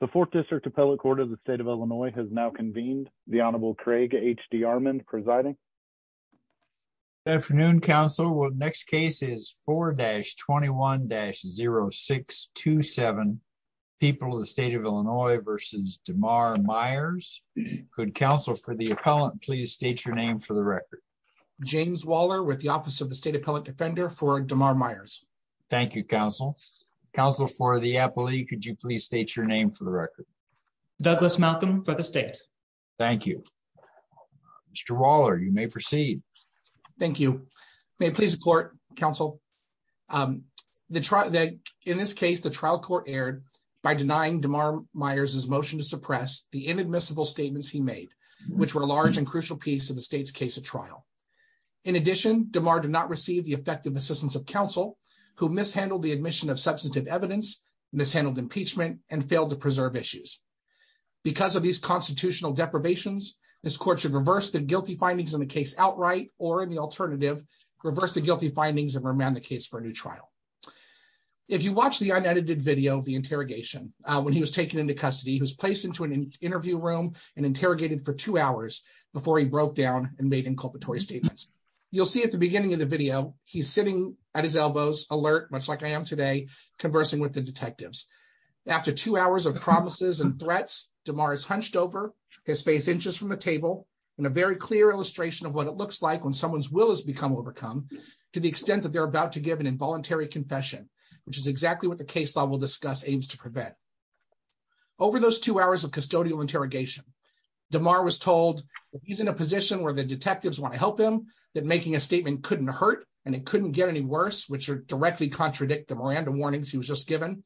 The Fourth District Appellate Court of the State of Illinois has now convened. The Honorable Craig H.D. Armand presiding. Good afternoon, Counsel. The next case is 4-21-0627, People of the State of Illinois v. Damar Meyers. Could Counsel for the Appellant please state your name for the record. James Waller with the Office of the State Appellate Defender for Damar Meyers. Thank you, Counsel. Counsel for the Appellate, could you please state your name for the record. Douglas Malcolm for the State. Thank you. Mr. Waller, you may proceed. Thank you. May it please the Court, Counsel. In this case, the trial court erred by denying Damar Meyers' motion to suppress the inadmissible statements he made, which were a large and crucial piece of the state's case at trial. In addition, Damar did not receive the effective assistance of counsel, who mishandled the admission of substantive evidence, mishandled impeachment, and failed to preserve issues. Because of these constitutional deprivations, this Court should reverse the guilty findings in the case outright or, in the alternative, reverse the guilty findings and remand the case for a new trial. If you watch the unedited video of the interrogation, when he was taken into custody, he was placed into an interview room and interrogated for two hours before he broke down and made inculpatory statements. You'll see at the beginning of the video, he's sitting at his elbows, alert, much like I am today, conversing with the detectives. After two hours of promises and threats, Damar is hunched over, his face inches from the table, and a very clear illustration of what it looks like when someone's will is overcome, to the extent that they're about to give an involuntary confession, which is exactly what the case law will discuss aims to prevent. Over those two hours of custodial interrogation, Damar was told that he's in a position where the detectives want to help him, that making a statement couldn't hurt, and it couldn't get any worse, which would directly contradict the Miranda warnings he was just given.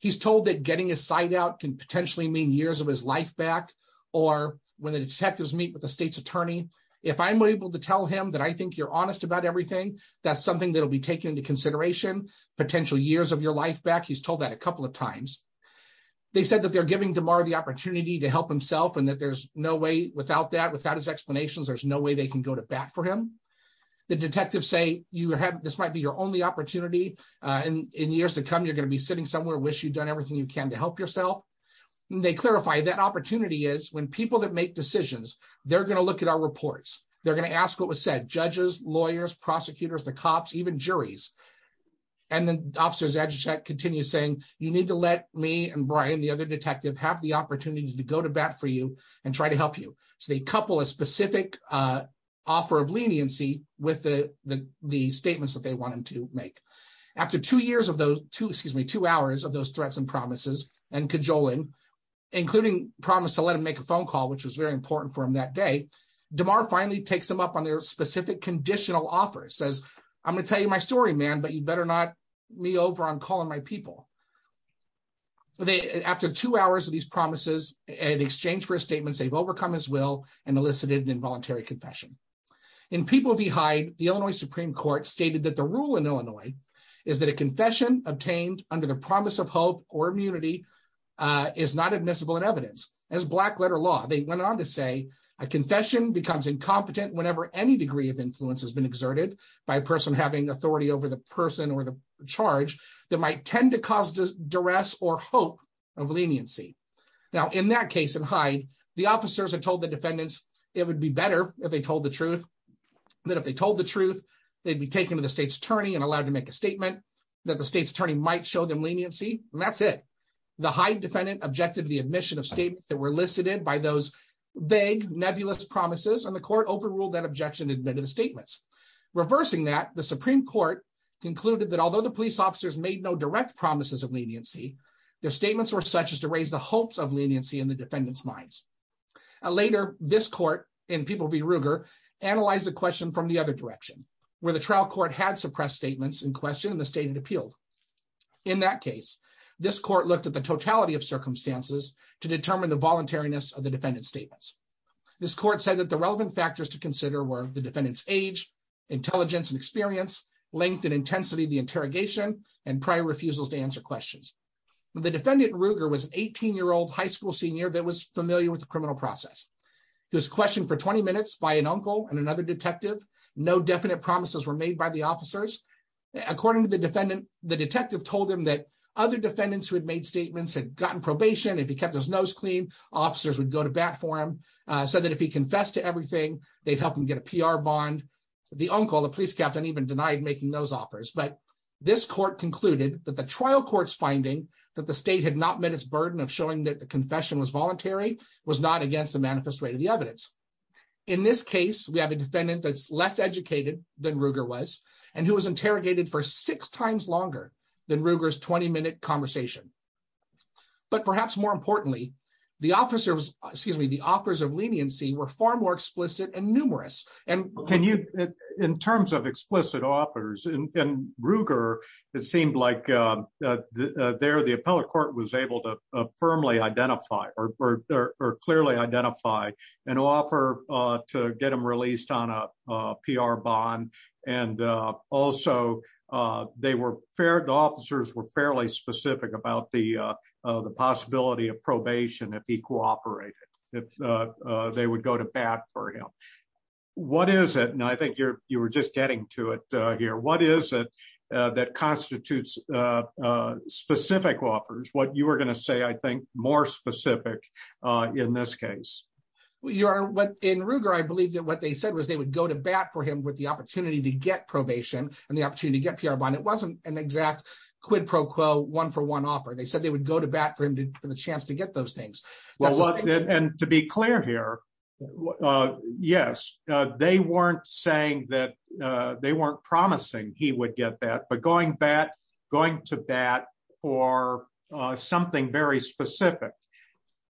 He's told that getting his side out can potentially mean years of his life back, or when the detectives meet with the state's attorney, if I'm able to tell him that I think you're honest about everything, that's something that'll be taken into consideration, potential years of your life back, he's told that a couple of times. They said that they're giving Damar the opportunity to help himself, and that there's no way, without that, without his explanations, there's no way they can go to bat for him. The detectives say, this might be your only opportunity, and in years to come, you're going to be sitting somewhere, wish you'd done everything you can to help yourself. They clarify, that opportunity is when people that make decisions, they're going to look at our reports, they're going to ask what was said, judges, lawyers, prosecutors, the cops, even juries, and then officers continue saying, you need to let me and Brian, the other detective, have the opportunity to go to bat for you and try to help you. So they couple a specific offer of leniency with the statements that they want him to make. After two hours of those threats and promises, and cajoling, including promise to let him make a phone call, which was very important for him that day, Damar finally takes him up on their specific conditional offer. He says, I'm going to tell you my story, man, but you better not me over on calling my people. After two hours of these promises, in exchange for statements, they've overcome his will and elicited an involuntary confession. In People v. Hyde, the Illinois Supreme Court stated that the rule in Illinois is that a confession obtained under the promise of hope or immunity is not admissible in evidence. As black letter law, they went on to say, a confession becomes incompetent whenever any degree of influence has been exerted by a person having authority over the person or the charge that might tend to cause duress or hope of leniency. Now, in that case in Hyde, the officers had told the defendants, it would be better if they told the truth, that if they told the truth, they'd be taken to the state's attorney and allowed to make a statement that the state's attorney might show them leniency, and that's it. The Hyde defendant objected to the admission of statements that were elicited by those vague nebulous promises and the court overruled that objection admitted statements. Reversing that, the Supreme Court concluded that although the police officers made no direct promises of leniency, their statements were such as to raise the hopes of leniency in the defendant's minds. Later, this court, in People v. Ruger, analyzed the question from the other direction, where the trial court had suppressed statements in question and the state had appealed. In that case, this court looked at the totality of circumstances to determine the voluntariness of the defendant's statements. This court said that the relevant factors to consider were the defendant's age, intelligence and experience, length and intensity of the interrogation, and prior refusals to answer questions. The defendant, Ruger, was an 18-year-old high school senior that was familiar with the criminal process. He was questioned for 20 minutes by an uncle and another detective. No definite promises were made by the officers. According to the defendant, the detective told him that other defendants who had made statements had gotten probation. If he kept his nose clean, officers would go to bat for him, said that if he confessed to everything, they'd help him get a PR bond. The uncle, the police captain, even denied making those offers. But this court concluded that the trial court's finding that the state had not met its burden of showing that the confession was voluntary was not against the manifest way to the evidence. In this case, we have a defendant that's less educated than Ruger was, and who was interrogated for six times longer than Ruger's 20-minute conversation. But perhaps more importantly, the officers, excuse me, the offers of leniency were far more explicit and numerous. In terms of explicit offers, in Ruger, it seemed like there the appellate court was able to firmly identify or clearly identify an offer to get him released on a PR bond. And also, the officers were fairly specific about the possibility of probation if he cooperated, if they would go to bat for him. What is it, and I think you were just getting to it here, what is it that constitutes specific offers? What you were going to say, I think, more specific in this case. In Ruger, I believe that what they said was they would go to bat for him with the opportunity to get probation and the opportunity to get PR bond. It wasn't an exact quid pro quo, one for one offer. They said they would go to bat for him for the chance to get those things. And to be clear here, yes, they weren't saying that, they weren't promising he would get that, but going to bat for something very specific.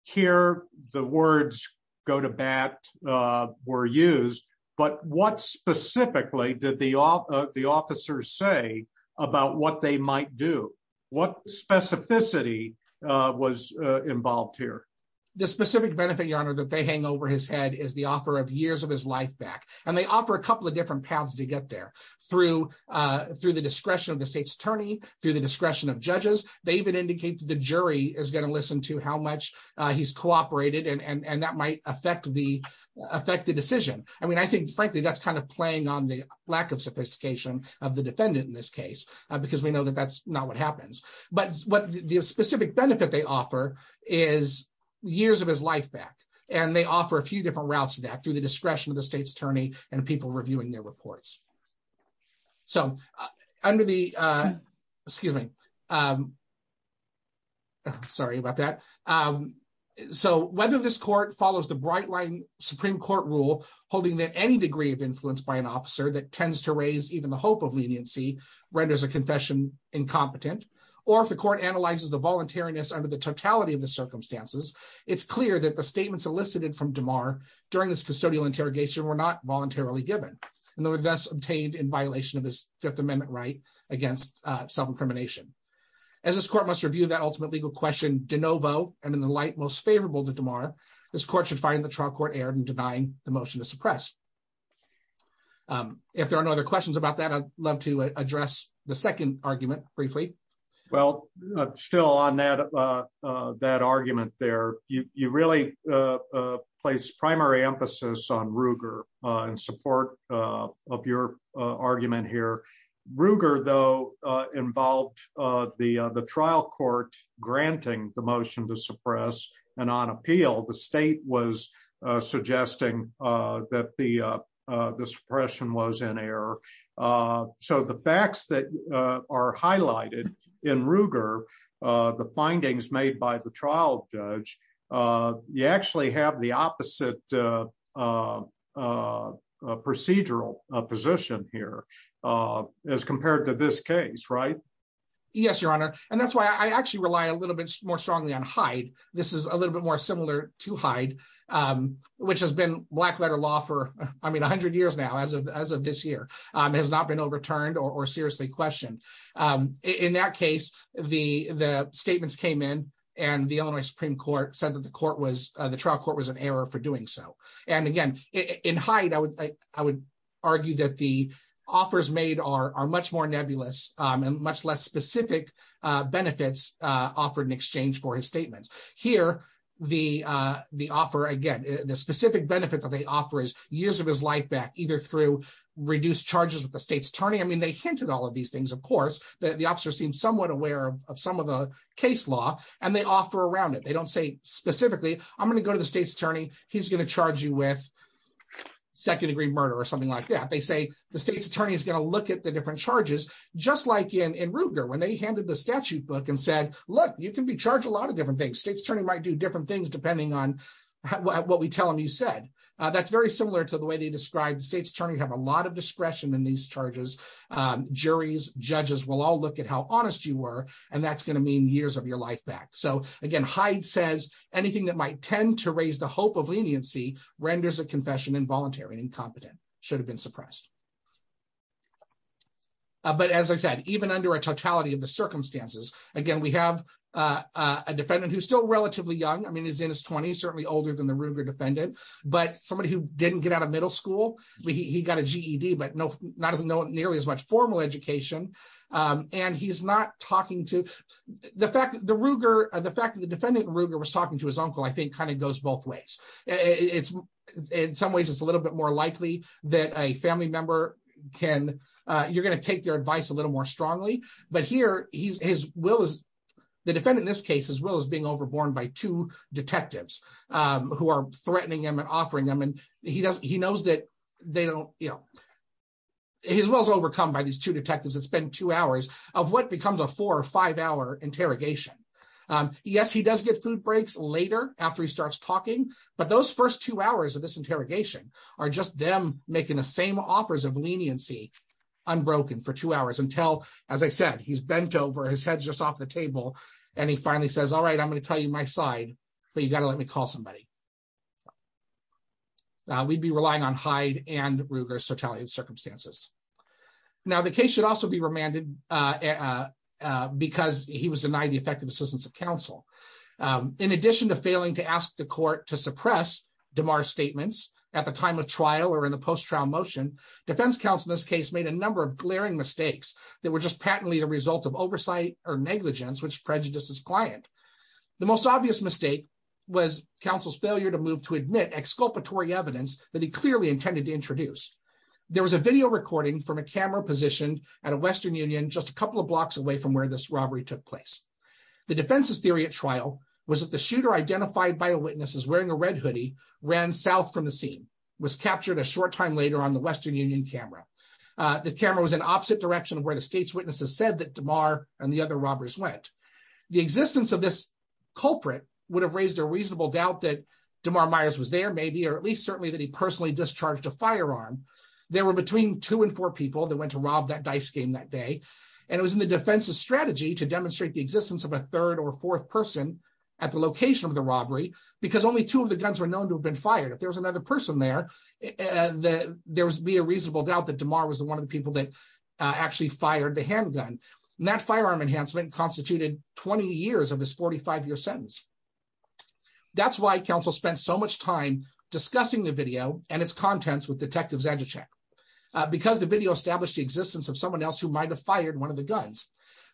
Here, the words go to bat were used, but what specifically did the officers say about what they might do? What specificity was involved here? The specific benefit, your honor, that they hang over his head is the offer of years of his life back. And they offer a couple of different paths to get there. Through the discretion of the state's attorney, through the discretion of judges, they even indicate that the jury is going to listen to how much he's cooperated and that might affect the decision. I mean, I think, frankly, that's kind of playing on the lack of sophistication of the defendant in this case, because we know that that's not what happens. But what the specific benefit they offer is years of his life back. And they offer a few different routes to that through the discretion of the state's attorney and people reviewing their reports. So, under the excuse me. Sorry about that. So whether this court follows the bright line Supreme Court rule, holding that any degree of influence by an officer that tends to raise even the hope of leniency renders a confession incompetent, or if the court analyzes the voluntariness under the totality of the in violation of this Fifth Amendment right against self incrimination. As this court must review that ultimate legal question de novo, and in the light most favorable to tomorrow. This court should find the trial court aired and denying the motion to suppress. If there are no other questions about that I'd love to address the second argument, briefly. Well, still on that, that argument there, you really place primary emphasis on Ruger and support of your argument here. Ruger though involved. The, the trial court, granting the motion to suppress and on appeal the state was suggesting that the, the suppression was in error. So the facts that are highlighted in Ruger, the findings made by the trial judge, you actually have the opposite procedural position here. As compared to this case right. Yes, Your Honor, and that's why I actually rely a little bit more strongly on hide. This is a little bit more similar to hide, which has been black letter law for, I mean 100 years now as of this year has not been overturned or seriously questioned. In that case, the, the statements came in, and the Illinois Supreme Court said that the court was the trial court was an error for doing so. And again, in height I would, I would argue that the offers made are much more nebulous and much less specific benefits offered in exchange for his statements here, the, the offer again, the specific benefit that they offer is years of his life back either through reduced charges with the state's attorney I mean they hinted all of these things of course that the officer seems somewhat aware of some of the case law, and they offer around it they don't say, specifically, I'm going to go to the state's attorney, he's going to charge you with second degree murder or something like that they say the state's attorney is going to look at the different charges, just like in in Ruger when they handed the statute book and said, Look, you can be charged a lot of different things states turning might do different things depending on what we tell them you said that's very similar to the way they described states turning have a lot of discretion in these charges. Juries judges will all look at how honest you were, and that's going to mean years of your life back so again Hyde says anything that might tend to raise the hope of leniency renders a confession involuntary incompetent should have been suppressed. But as I said, even under a totality of the circumstances. Again, we have a defendant who's still relatively young I mean is in his 20s certainly older than the Ruger defendant, but somebody who didn't get out of middle school, he got a GED but no, not as no a family member can, you're going to take their advice a little more strongly, but here, he's his will is the defendant this case as well as being overborne by two detectives who are threatening him and offering them and he doesn't he knows that they don't, you know, his was overcome by these two detectives it's been two hours of what becomes a four or five hour interrogation. Yes, he does get food breaks later after he starts talking, but those first two hours of this interrogation are just them, making the same offers of leniency unbroken for two hours until, as I said, he's bent over his head just off the table. And he finally says all right I'm going to tell you my side, but you got to let me call somebody. We'd be relying on Hyde and Ruger's totalitarian circumstances. Now the case should also be remanded, because he was denied the effective assistance of counsel. In addition to failing to ask the court to suppress DeMar's statements at the time of trial or in the post trial motion, defense counsel in this case made a number of glaring mistakes that were just patently the result of oversight or negligence which prejudices client. The most obvious mistake was counsel's failure to move to admit exculpatory evidence that he clearly intended to introduce. There was a video recording from a camera positioned at a Western Union just a couple of blocks away from where this robbery took place. The defense's theory at trial was that the shooter identified by witnesses wearing a red hoodie ran south from the scene was captured a short time later on the Western Union camera. The camera was an opposite direction where the state's witnesses said that tomorrow, and the other robbers went the existence of this culprit would have raised a reasonable doubt that tomorrow Myers was there maybe or at least certainly that he personally discharged a firearm. There were between two and four people that went to rob that dice game that day. And it was in the defense's strategy to demonstrate the existence of a third or fourth person at the location of the robbery, because only two of the guns were known to have been fired if there was another person there. And there was be a reasonable doubt that tomorrow was the one of the people that actually fired the handgun that firearm enhancement constituted 20 years of this 45 year sentence. That's why counsel spent so much time discussing the video, and its contents with detectives as a check, because the video established the existence of someone else who might have fired one of the guns,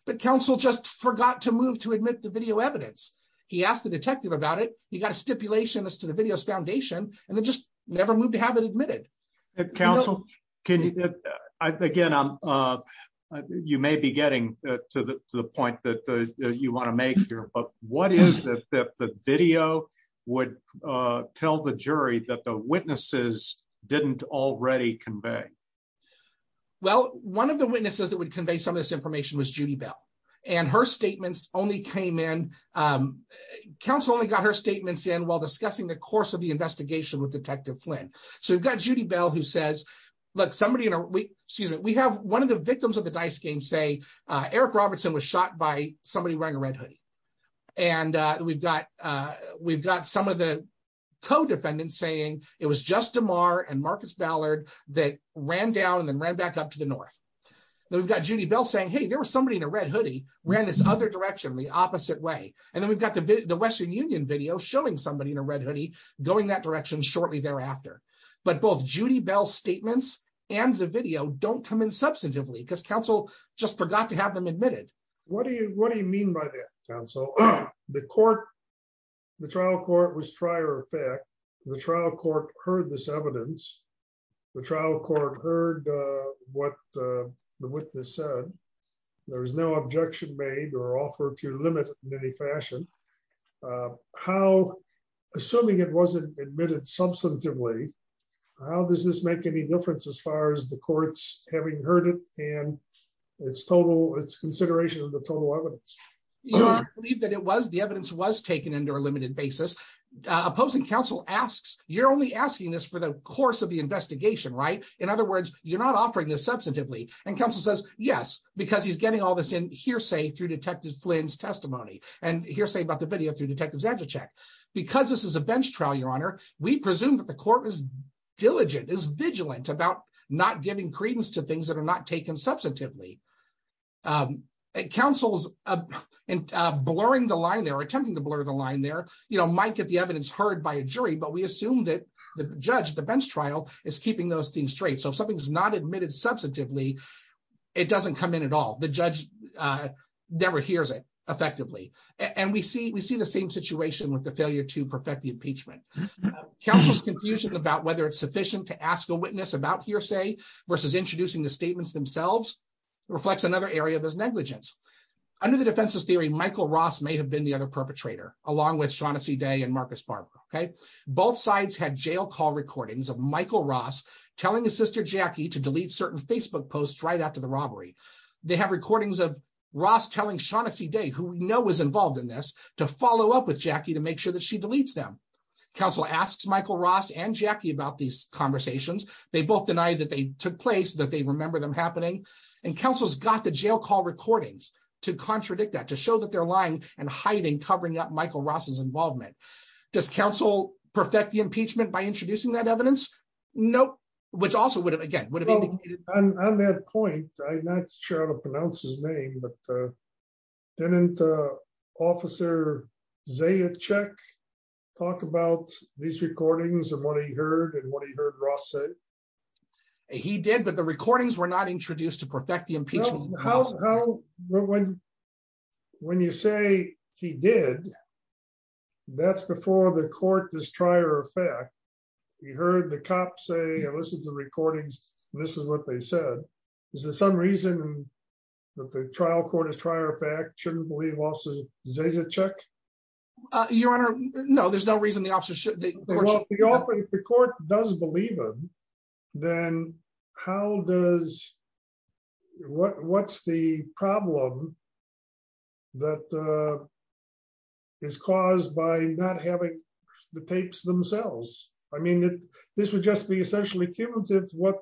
but counsel just forgot to move to admit the video evidence. He asked the detective about it, you got a stipulation as to the videos foundation, and then just never moved to have it admitted. Counsel, can you. Again, I'm. You may be getting to the point that you want to make your book, what is the video would tell the jury that the witnesses didn't already convey. Well, one of the witnesses that would convey some of this information was Judy Bell, and her statements only came in. Council only got her statements in while discussing the course of the investigation with Detective Flynn. So we've got Judy Bell who says, look, somebody in a week, excuse me, we have one of the victims of the dice game say Eric Robertson was shot by somebody wearing a red hoodie. And we've got, we've got some of the co defendants saying it was just tomorrow and Marcus Ballard that ran down and then ran back up to the north. We've got Judy Bell saying hey there was somebody in a red hoodie ran this other direction the opposite way. And then we've got the Western Union video showing somebody in a red hoodie going that direction shortly thereafter. But both Judy Bell statements, and the video don't come in substantively because counsel just forgot to have them admitted. What do you, what do you mean by that. So, the court. The trial court was prior effect. The trial court heard this evidence. The trial court heard what the witness said. There was no objection made or offered to limit in any fashion. How, assuming it wasn't admitted substantively. How does this make any difference as far as the courts, having heard it, and it's total it's consideration of the total evidence, believe that it was the evidence was taken into a limited basis, opposing counsel asks, you're only asking this for the course of the investigation right. In other words, you're not offering this substantively and counsel says yes, because he's getting all this in hearsay through detective Flynn's testimony, and hearsay about the video through detectives agile check, because this is a bench trial Your Honor, we presume that the court was diligent is vigilant about not giving credence to things that are not taken substantively. It counsels and blurring the line they're attempting to blur the line there, you know, might get the evidence heard by a jury but we assume that the judge the bench trial is keeping those things straight so something's not admitted substantively. It doesn't come in at all. The judge never hears it effectively, and we see we see the same situation with the failure to perfect the impeachment. Counsel's confusion about whether it's sufficient to ask a witness about hearsay versus introducing the statements themselves reflects another area of his negligence. Under the defense's theory Michael Ross may have been the other perpetrator, along with Shaughnessy day and Marcus Barber. Okay. Both sides had jail call recordings of Michael Ross, telling his sister Jackie to delete certain Facebook posts right after the counsel asks Michael Ross and Jackie about these conversations, they both denied that they took place that they remember them happening and counsel's got the jail call recordings to contradict that to show that they're lying and hiding covering up Michael Ross's these recordings and what he heard and what he heard Ross said he did but the recordings were not introduced to perfect the impeachment. When, when you say he did. That's before the court does try or fact. He heard the cops say listen to the recordings. This is what they said. Is there some reason that the trial court is try or fact shouldn't believe losses, Zaza check. Your Honor. No, there's no reason the officer should the court doesn't believe them. Then, how does. What, what's the problem that is caused by not having the tapes themselves. I mean, this would just be essentially cumulative what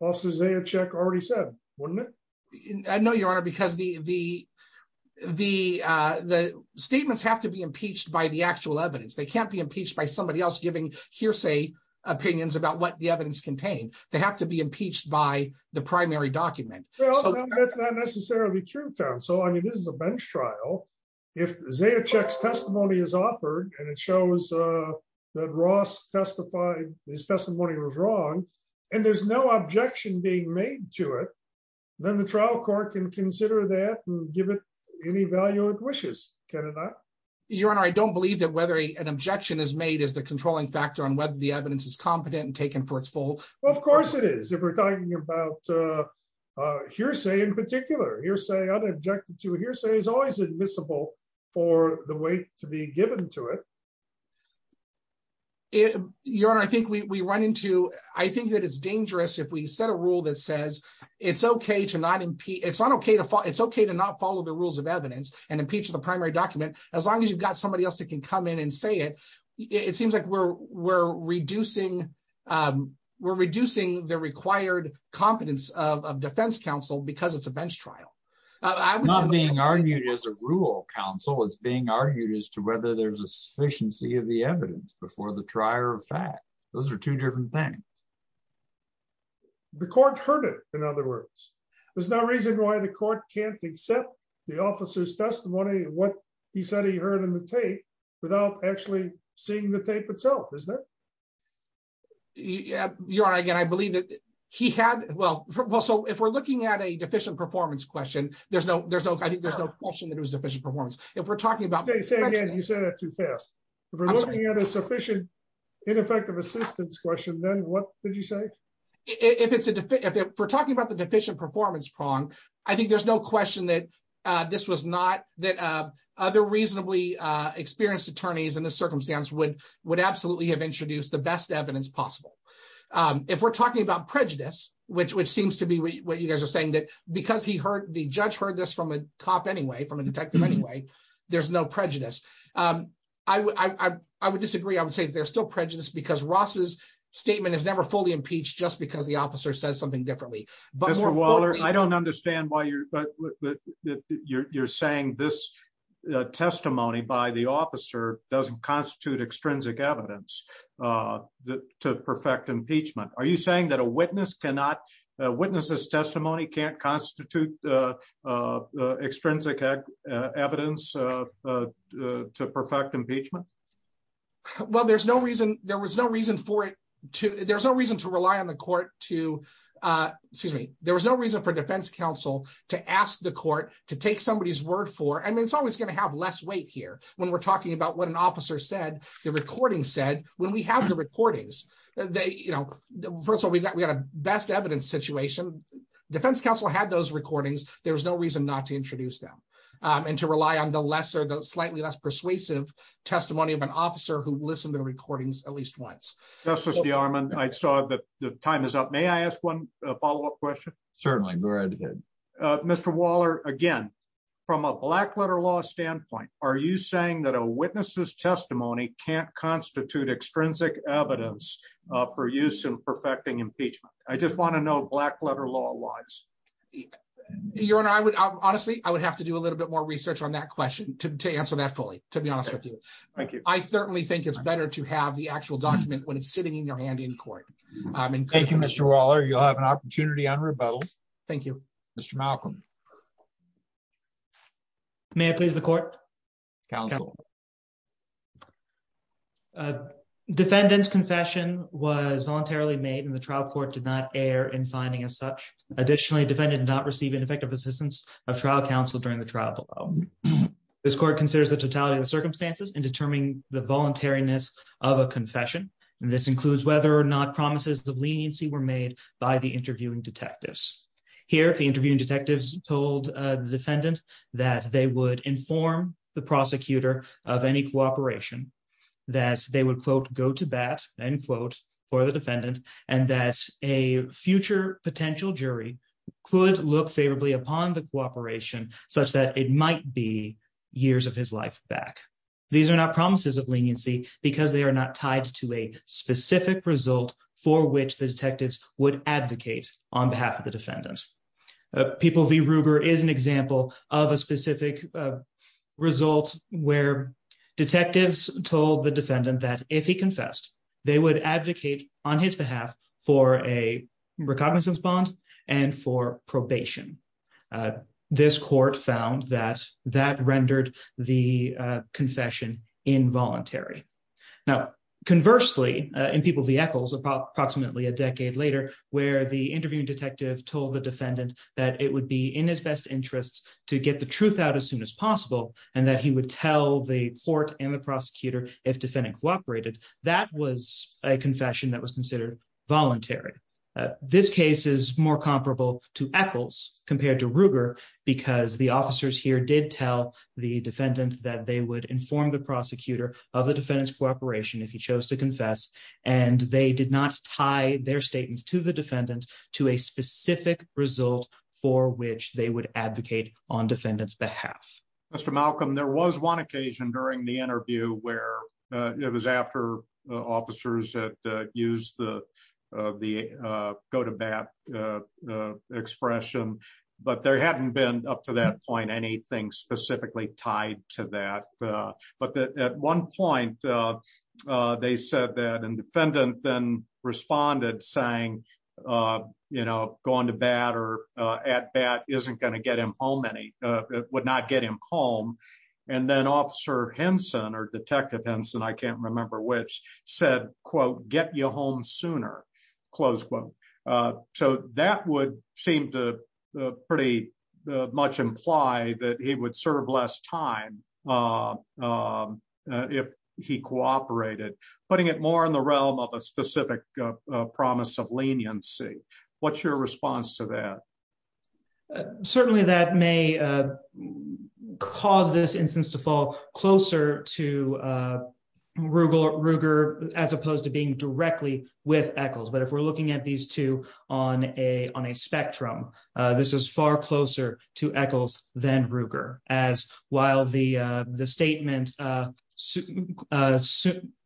bosses a check already said, wouldn't it. I know your honor because the, the, the statements have to be impeached by the actual evidence they can't be impeached by somebody else giving hearsay opinions about what the evidence contained, they have to be impeached by the primary document. That's not necessarily true. So I mean this is a bench trial. If they have checks testimony is offered, and it shows that Ross testified his testimony was wrong. And there's no objection being made to it. Then the trial court can consider that and give it any value of wishes, Canada. Your Honor, I don't believe that whether an objection is made as the controlling factor on whether the evidence is competent and taken for its full. Well, of course it is if we're talking about hearsay in particular hearsay objected to hearsay is always admissible for the way to be given to it. Your Honor, I think we run into, I think that it's dangerous if we set a rule that says it's okay to not impede it's not okay to fall it's okay to not follow the rules of evidence and impeach the primary document, as long as you've got somebody else that can come in and say it. It seems like we're, we're reducing. We're reducing the required competence of defense counsel because it's a bench trial. I was being argued as a rule counsel is being argued as to whether there's a sufficiency of the evidence before the trier of fact, those are two different things. The court heard it. In other words, there's no reason why the court can't accept the officer's testimony, what he said he heard in the tape without actually seeing the tape itself is there. I believe that he had well well so if we're looking at a deficient performance question, there's no, there's no, I think there's no question that it was deficient performance. If we're talking about you said that too fast. We're looking at a sufficient ineffective assistance question then what did you say, if it's a defective we're talking about the deficient performance prong. I think there's no question that this was not that other reasonably experienced attorneys in this circumstance would would absolutely have introduced the best evidence possible. If we're talking about prejudice, which which seems to be what you guys are saying that because he heard the judge heard this from a cop anyway from a detective anyway. There's no prejudice. I would disagree, I would say they're still prejudice because Ross's statement is never fully impeached just because the officer says something differently, but I don't understand why you're, you're saying this testimony by the officer doesn't constitute extrinsic evidence to perfect impeachment, are you saying that a witness cannot witnesses testimony can't constitute extrinsic evidence to perfect impeachment. Well, there's no reason there was no reason for it to, there's no reason to rely on the court to, excuse me, there was no reason for defense counsel to ask the court to take somebody's word for and it's always going to have less weight here, when we're talking about what an officer said the recording said, when we have the recordings, they, you know, first of all, we've got we got a best evidence situation. Defense counsel had those recordings, there's no reason not to introduce them, and to rely on the lesser those slightly less persuasive testimony of an officer who listened to recordings, at least once. That's the arm and I saw that the time is up may I ask one follow up question. Certainly. Mr Waller, again, from a black letter law standpoint, are you saying that a witnesses testimony can't constitute extrinsic evidence for use in perfecting impeachment, I just want to know black letter law laws. You're on I would honestly, I would have to do a little bit more research on that question to answer that fully, to be honest with you. Thank you. I certainly think it's better to have the actual document when it's sitting in your hand in court. Thank you, Mr Waller you'll have an opportunity on rebuttal. Thank you, Mr Malcolm. May I please the court counsel. Defendants confession was voluntarily made in the trial court did not air and finding as such. Additionally defended not receiving effective assistance of trial counsel during the trial. This court considers the totality of the circumstances and determining the voluntariness of a confession. And this includes whether or not promises of leniency were made by the interviewing detectives here if the interviewing detectives told the defendant that they would inform the prosecutor of any cooperation, that they would quote go to bat, unquote, or the defendant, and that a future potential jury could look favorably upon the cooperation, such that it might be years of his life back. These are not promises of leniency, because they are not tied to a specific result for which the detectives would advocate on behalf of the defendant. People the Ruger is an example of a specific results, where detectives told the defendant that if he confessed, they would advocate on his behalf for a recognizance bond and for probation. This court found that that rendered the confession involuntary. Now, conversely, in people vehicles about approximately a decade later, where the interviewing detective told the defendant that it would be in his best interest to get the truth out as soon as possible, and that he would tell the court and the prosecutor, if compared to Ruger, because the officers here did tell the defendant that they would inform the prosecutor of the defendant's cooperation if he chose to confess, and they did not tie their statements to the defendant to a specific result for which they would advocate on defendants behalf. Mr Malcolm there was one occasion during the interview where it was after officers that use the, the go to bat expression, but there hadn't been up to that point anything specifically tied to that. But at one point. They said that and defendant then responded saying, you know, going to bat or at bat isn't going to get him home any would not get him home. And then officer Henson or Detective Henson I can't remember which said, quote, get your home sooner. Close quote. So that would seem to pretty much imply that he would serve less time. If he cooperated, putting it more in the realm of a specific promise of leniency. What's your response to that. Certainly that may cause this instance to fall closer to Rugal Ruger, as opposed to being directly with echoes but if we're looking at these two on a on a spectrum. This is far closer to echoes, then Ruger, as while the, the statement.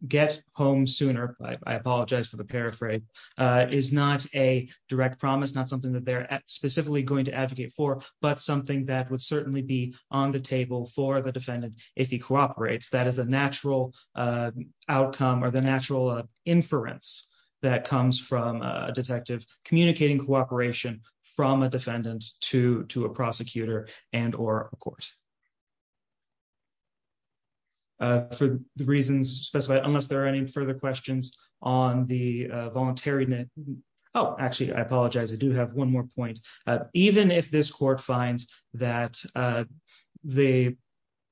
Get home sooner, I apologize for the paraphrase is not a direct promise not something that they're specifically going to advocate for, but something that would certainly be on the table for the defendant. That is a natural outcome or the natural inference that comes from a detective, communicating cooperation from a defendant to to a prosecutor, and or, of course, for the reasons specified unless there are any further questions on the voluntary net. Oh, actually I apologize I do have one more point. Even if this court finds that the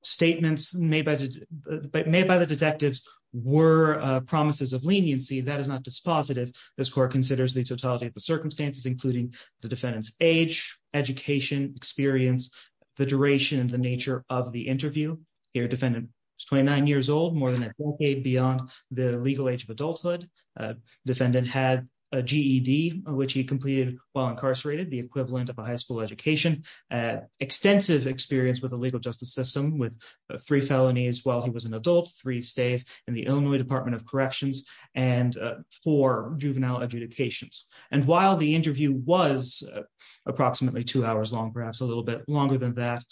statements made by made by the detectives were promises of leniency that is not dispositive. This court considers the totality of the circumstances including the defendants age, education experience, the duration and the nature of the interview here defendant 29 years old more than a decade beyond the legal age of adulthood defendant had a GED, which he completed while incarcerated the equivalent of a high school education, extensive experience with the legal justice system with three felonies while he was an adult three stays in the Illinois Department of Corrections, and for juvenile adjudications, and while the interview was approximately two hours long perhaps a little bit longer than that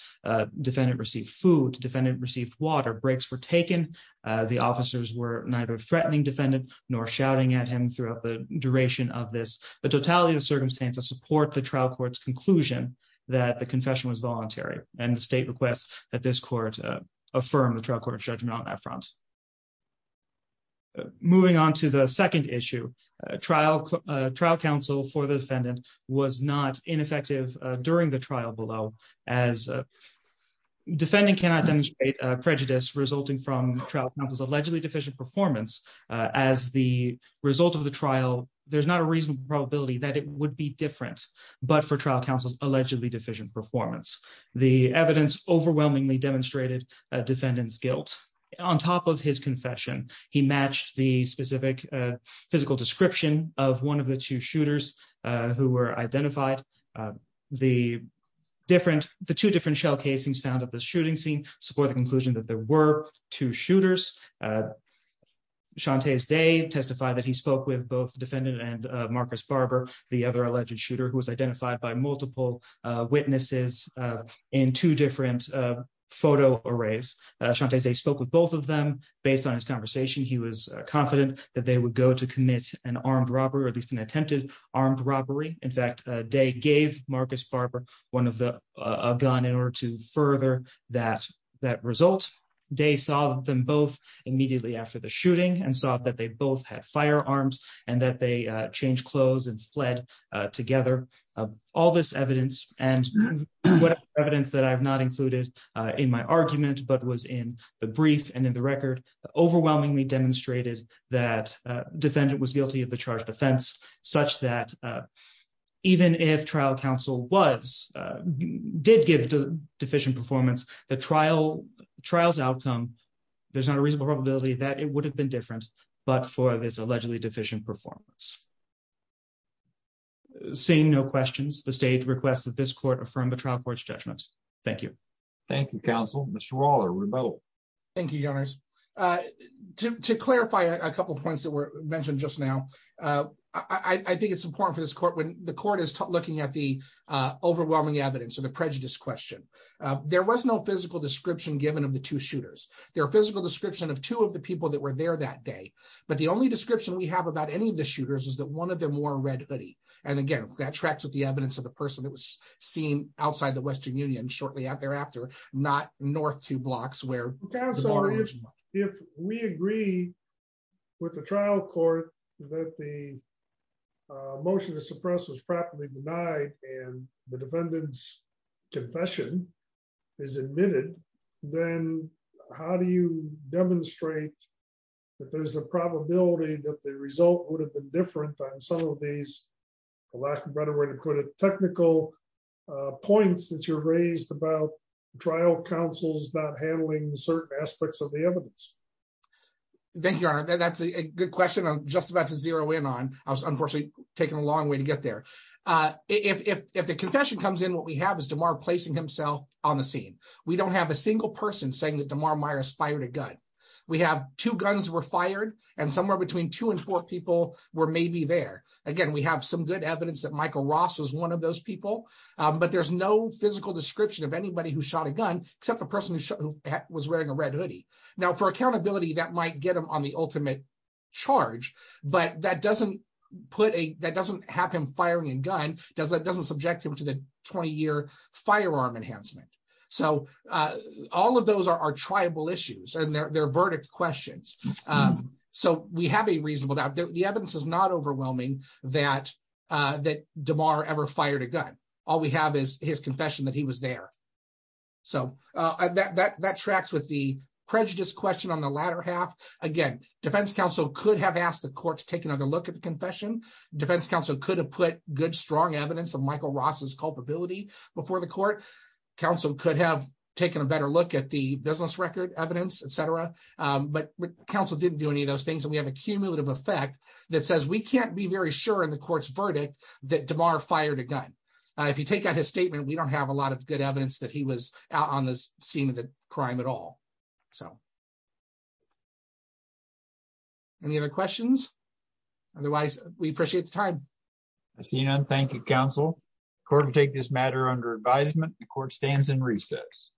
defendant received food defendant received water breaks were taken the officers were neither threatening defendant, nor shouting at him throughout the duration of this, the totality of was not ineffective during the trial below as defending cannot demonstrate prejudice resulting from trial was allegedly deficient performance as the result of the trial, there's not a reasonable probability that it would be different, but for trial there was no physical description of one of the two shooters who were identified the different the two different shell casings found at the shooting scene support the conclusion that there were two shooters. Shantay's Day testified that he spoke with both defendant and Marcus Barber, the other alleged shooter who was identified by multiple witnesses in two different photo arrays, Shantay's Day spoke with both of them, based on his conversation he was confident that they would go to commit an armed robbery or at least an attempted armed robbery, in fact, they gave Marcus Barber, one of the gun in order to further that that result. Shantay's Day saw them both immediately after the shooting and saw that they both had firearms, and that they change clothes and fled together. All this evidence, and what evidence that I've not included in my argument but was in the brief and in the record, overwhelmingly demonstrated that defendant was guilty of the charge defense, such that even if trial counsel was did give deficient performance, the trial trials outcome. There's not a reasonable probability that it would have been different, but for this allegedly deficient performance, saying no questions the state requests that this court affirm the trial court's judgment. Thank you. Thank you, counsel, Mr. overwhelming evidence of the prejudice question. There was no physical description given of the two shooters, their physical description of two of the people that were there that day. But the only description we have about any of the shooters is that one of them wore a red hoodie. And again, that tracks with the evidence of the person that was seen outside the Western Union shortly after after not north to blocks where we agree with the trial court that the motion to suppress was properly denied, and the defendants confession is admitted, then how do you demonstrate that there's a probability that the result would have been different than some of these. Technical points that you're raised about trial counsel's not handling certain aspects of the evidence. Thank you, that's a good question I'm just about to zero in on, I was unfortunately taken a long way to get there. If the confession comes in what we have is tomorrow placing himself on the scene. We don't have a single person saying that tomorrow Myers fired a gun. We have two guns were fired, and somewhere between two and four people were maybe there again we have some good evidence that Michael Ross was one of those people. But there's no physical description of anybody who shot a gun, except the person who was wearing a red hoodie. Now for accountability that might get them on the ultimate charge, but that doesn't put a, that doesn't happen firing and gun does that doesn't subject him to the 20 year firearm enhancement. So, all of those are tribal issues and their verdict questions. So we have a reasonable doubt that the evidence is not overwhelming that that tomorrow ever fired a gun. All we have is his confession that he was there. So, that tracks with the prejudice question on the latter half. Again, Defense Council could have asked the court to take another look at the confession, Defense Council could have put good strong evidence of Michael Ross's culpability before the court council could have taken a better look at the business record evidence, etc. But Council didn't do any of those things and we have a cumulative effect that says we can't be very sure in the court's verdict that tomorrow fired a gun. If you take out his statement we don't have a lot of good evidence that he was out on the scene of the crime at all. So, any other questions. Otherwise, we appreciate the time. Thank you, counsel, court take this matter under advisement, the court stands in recess.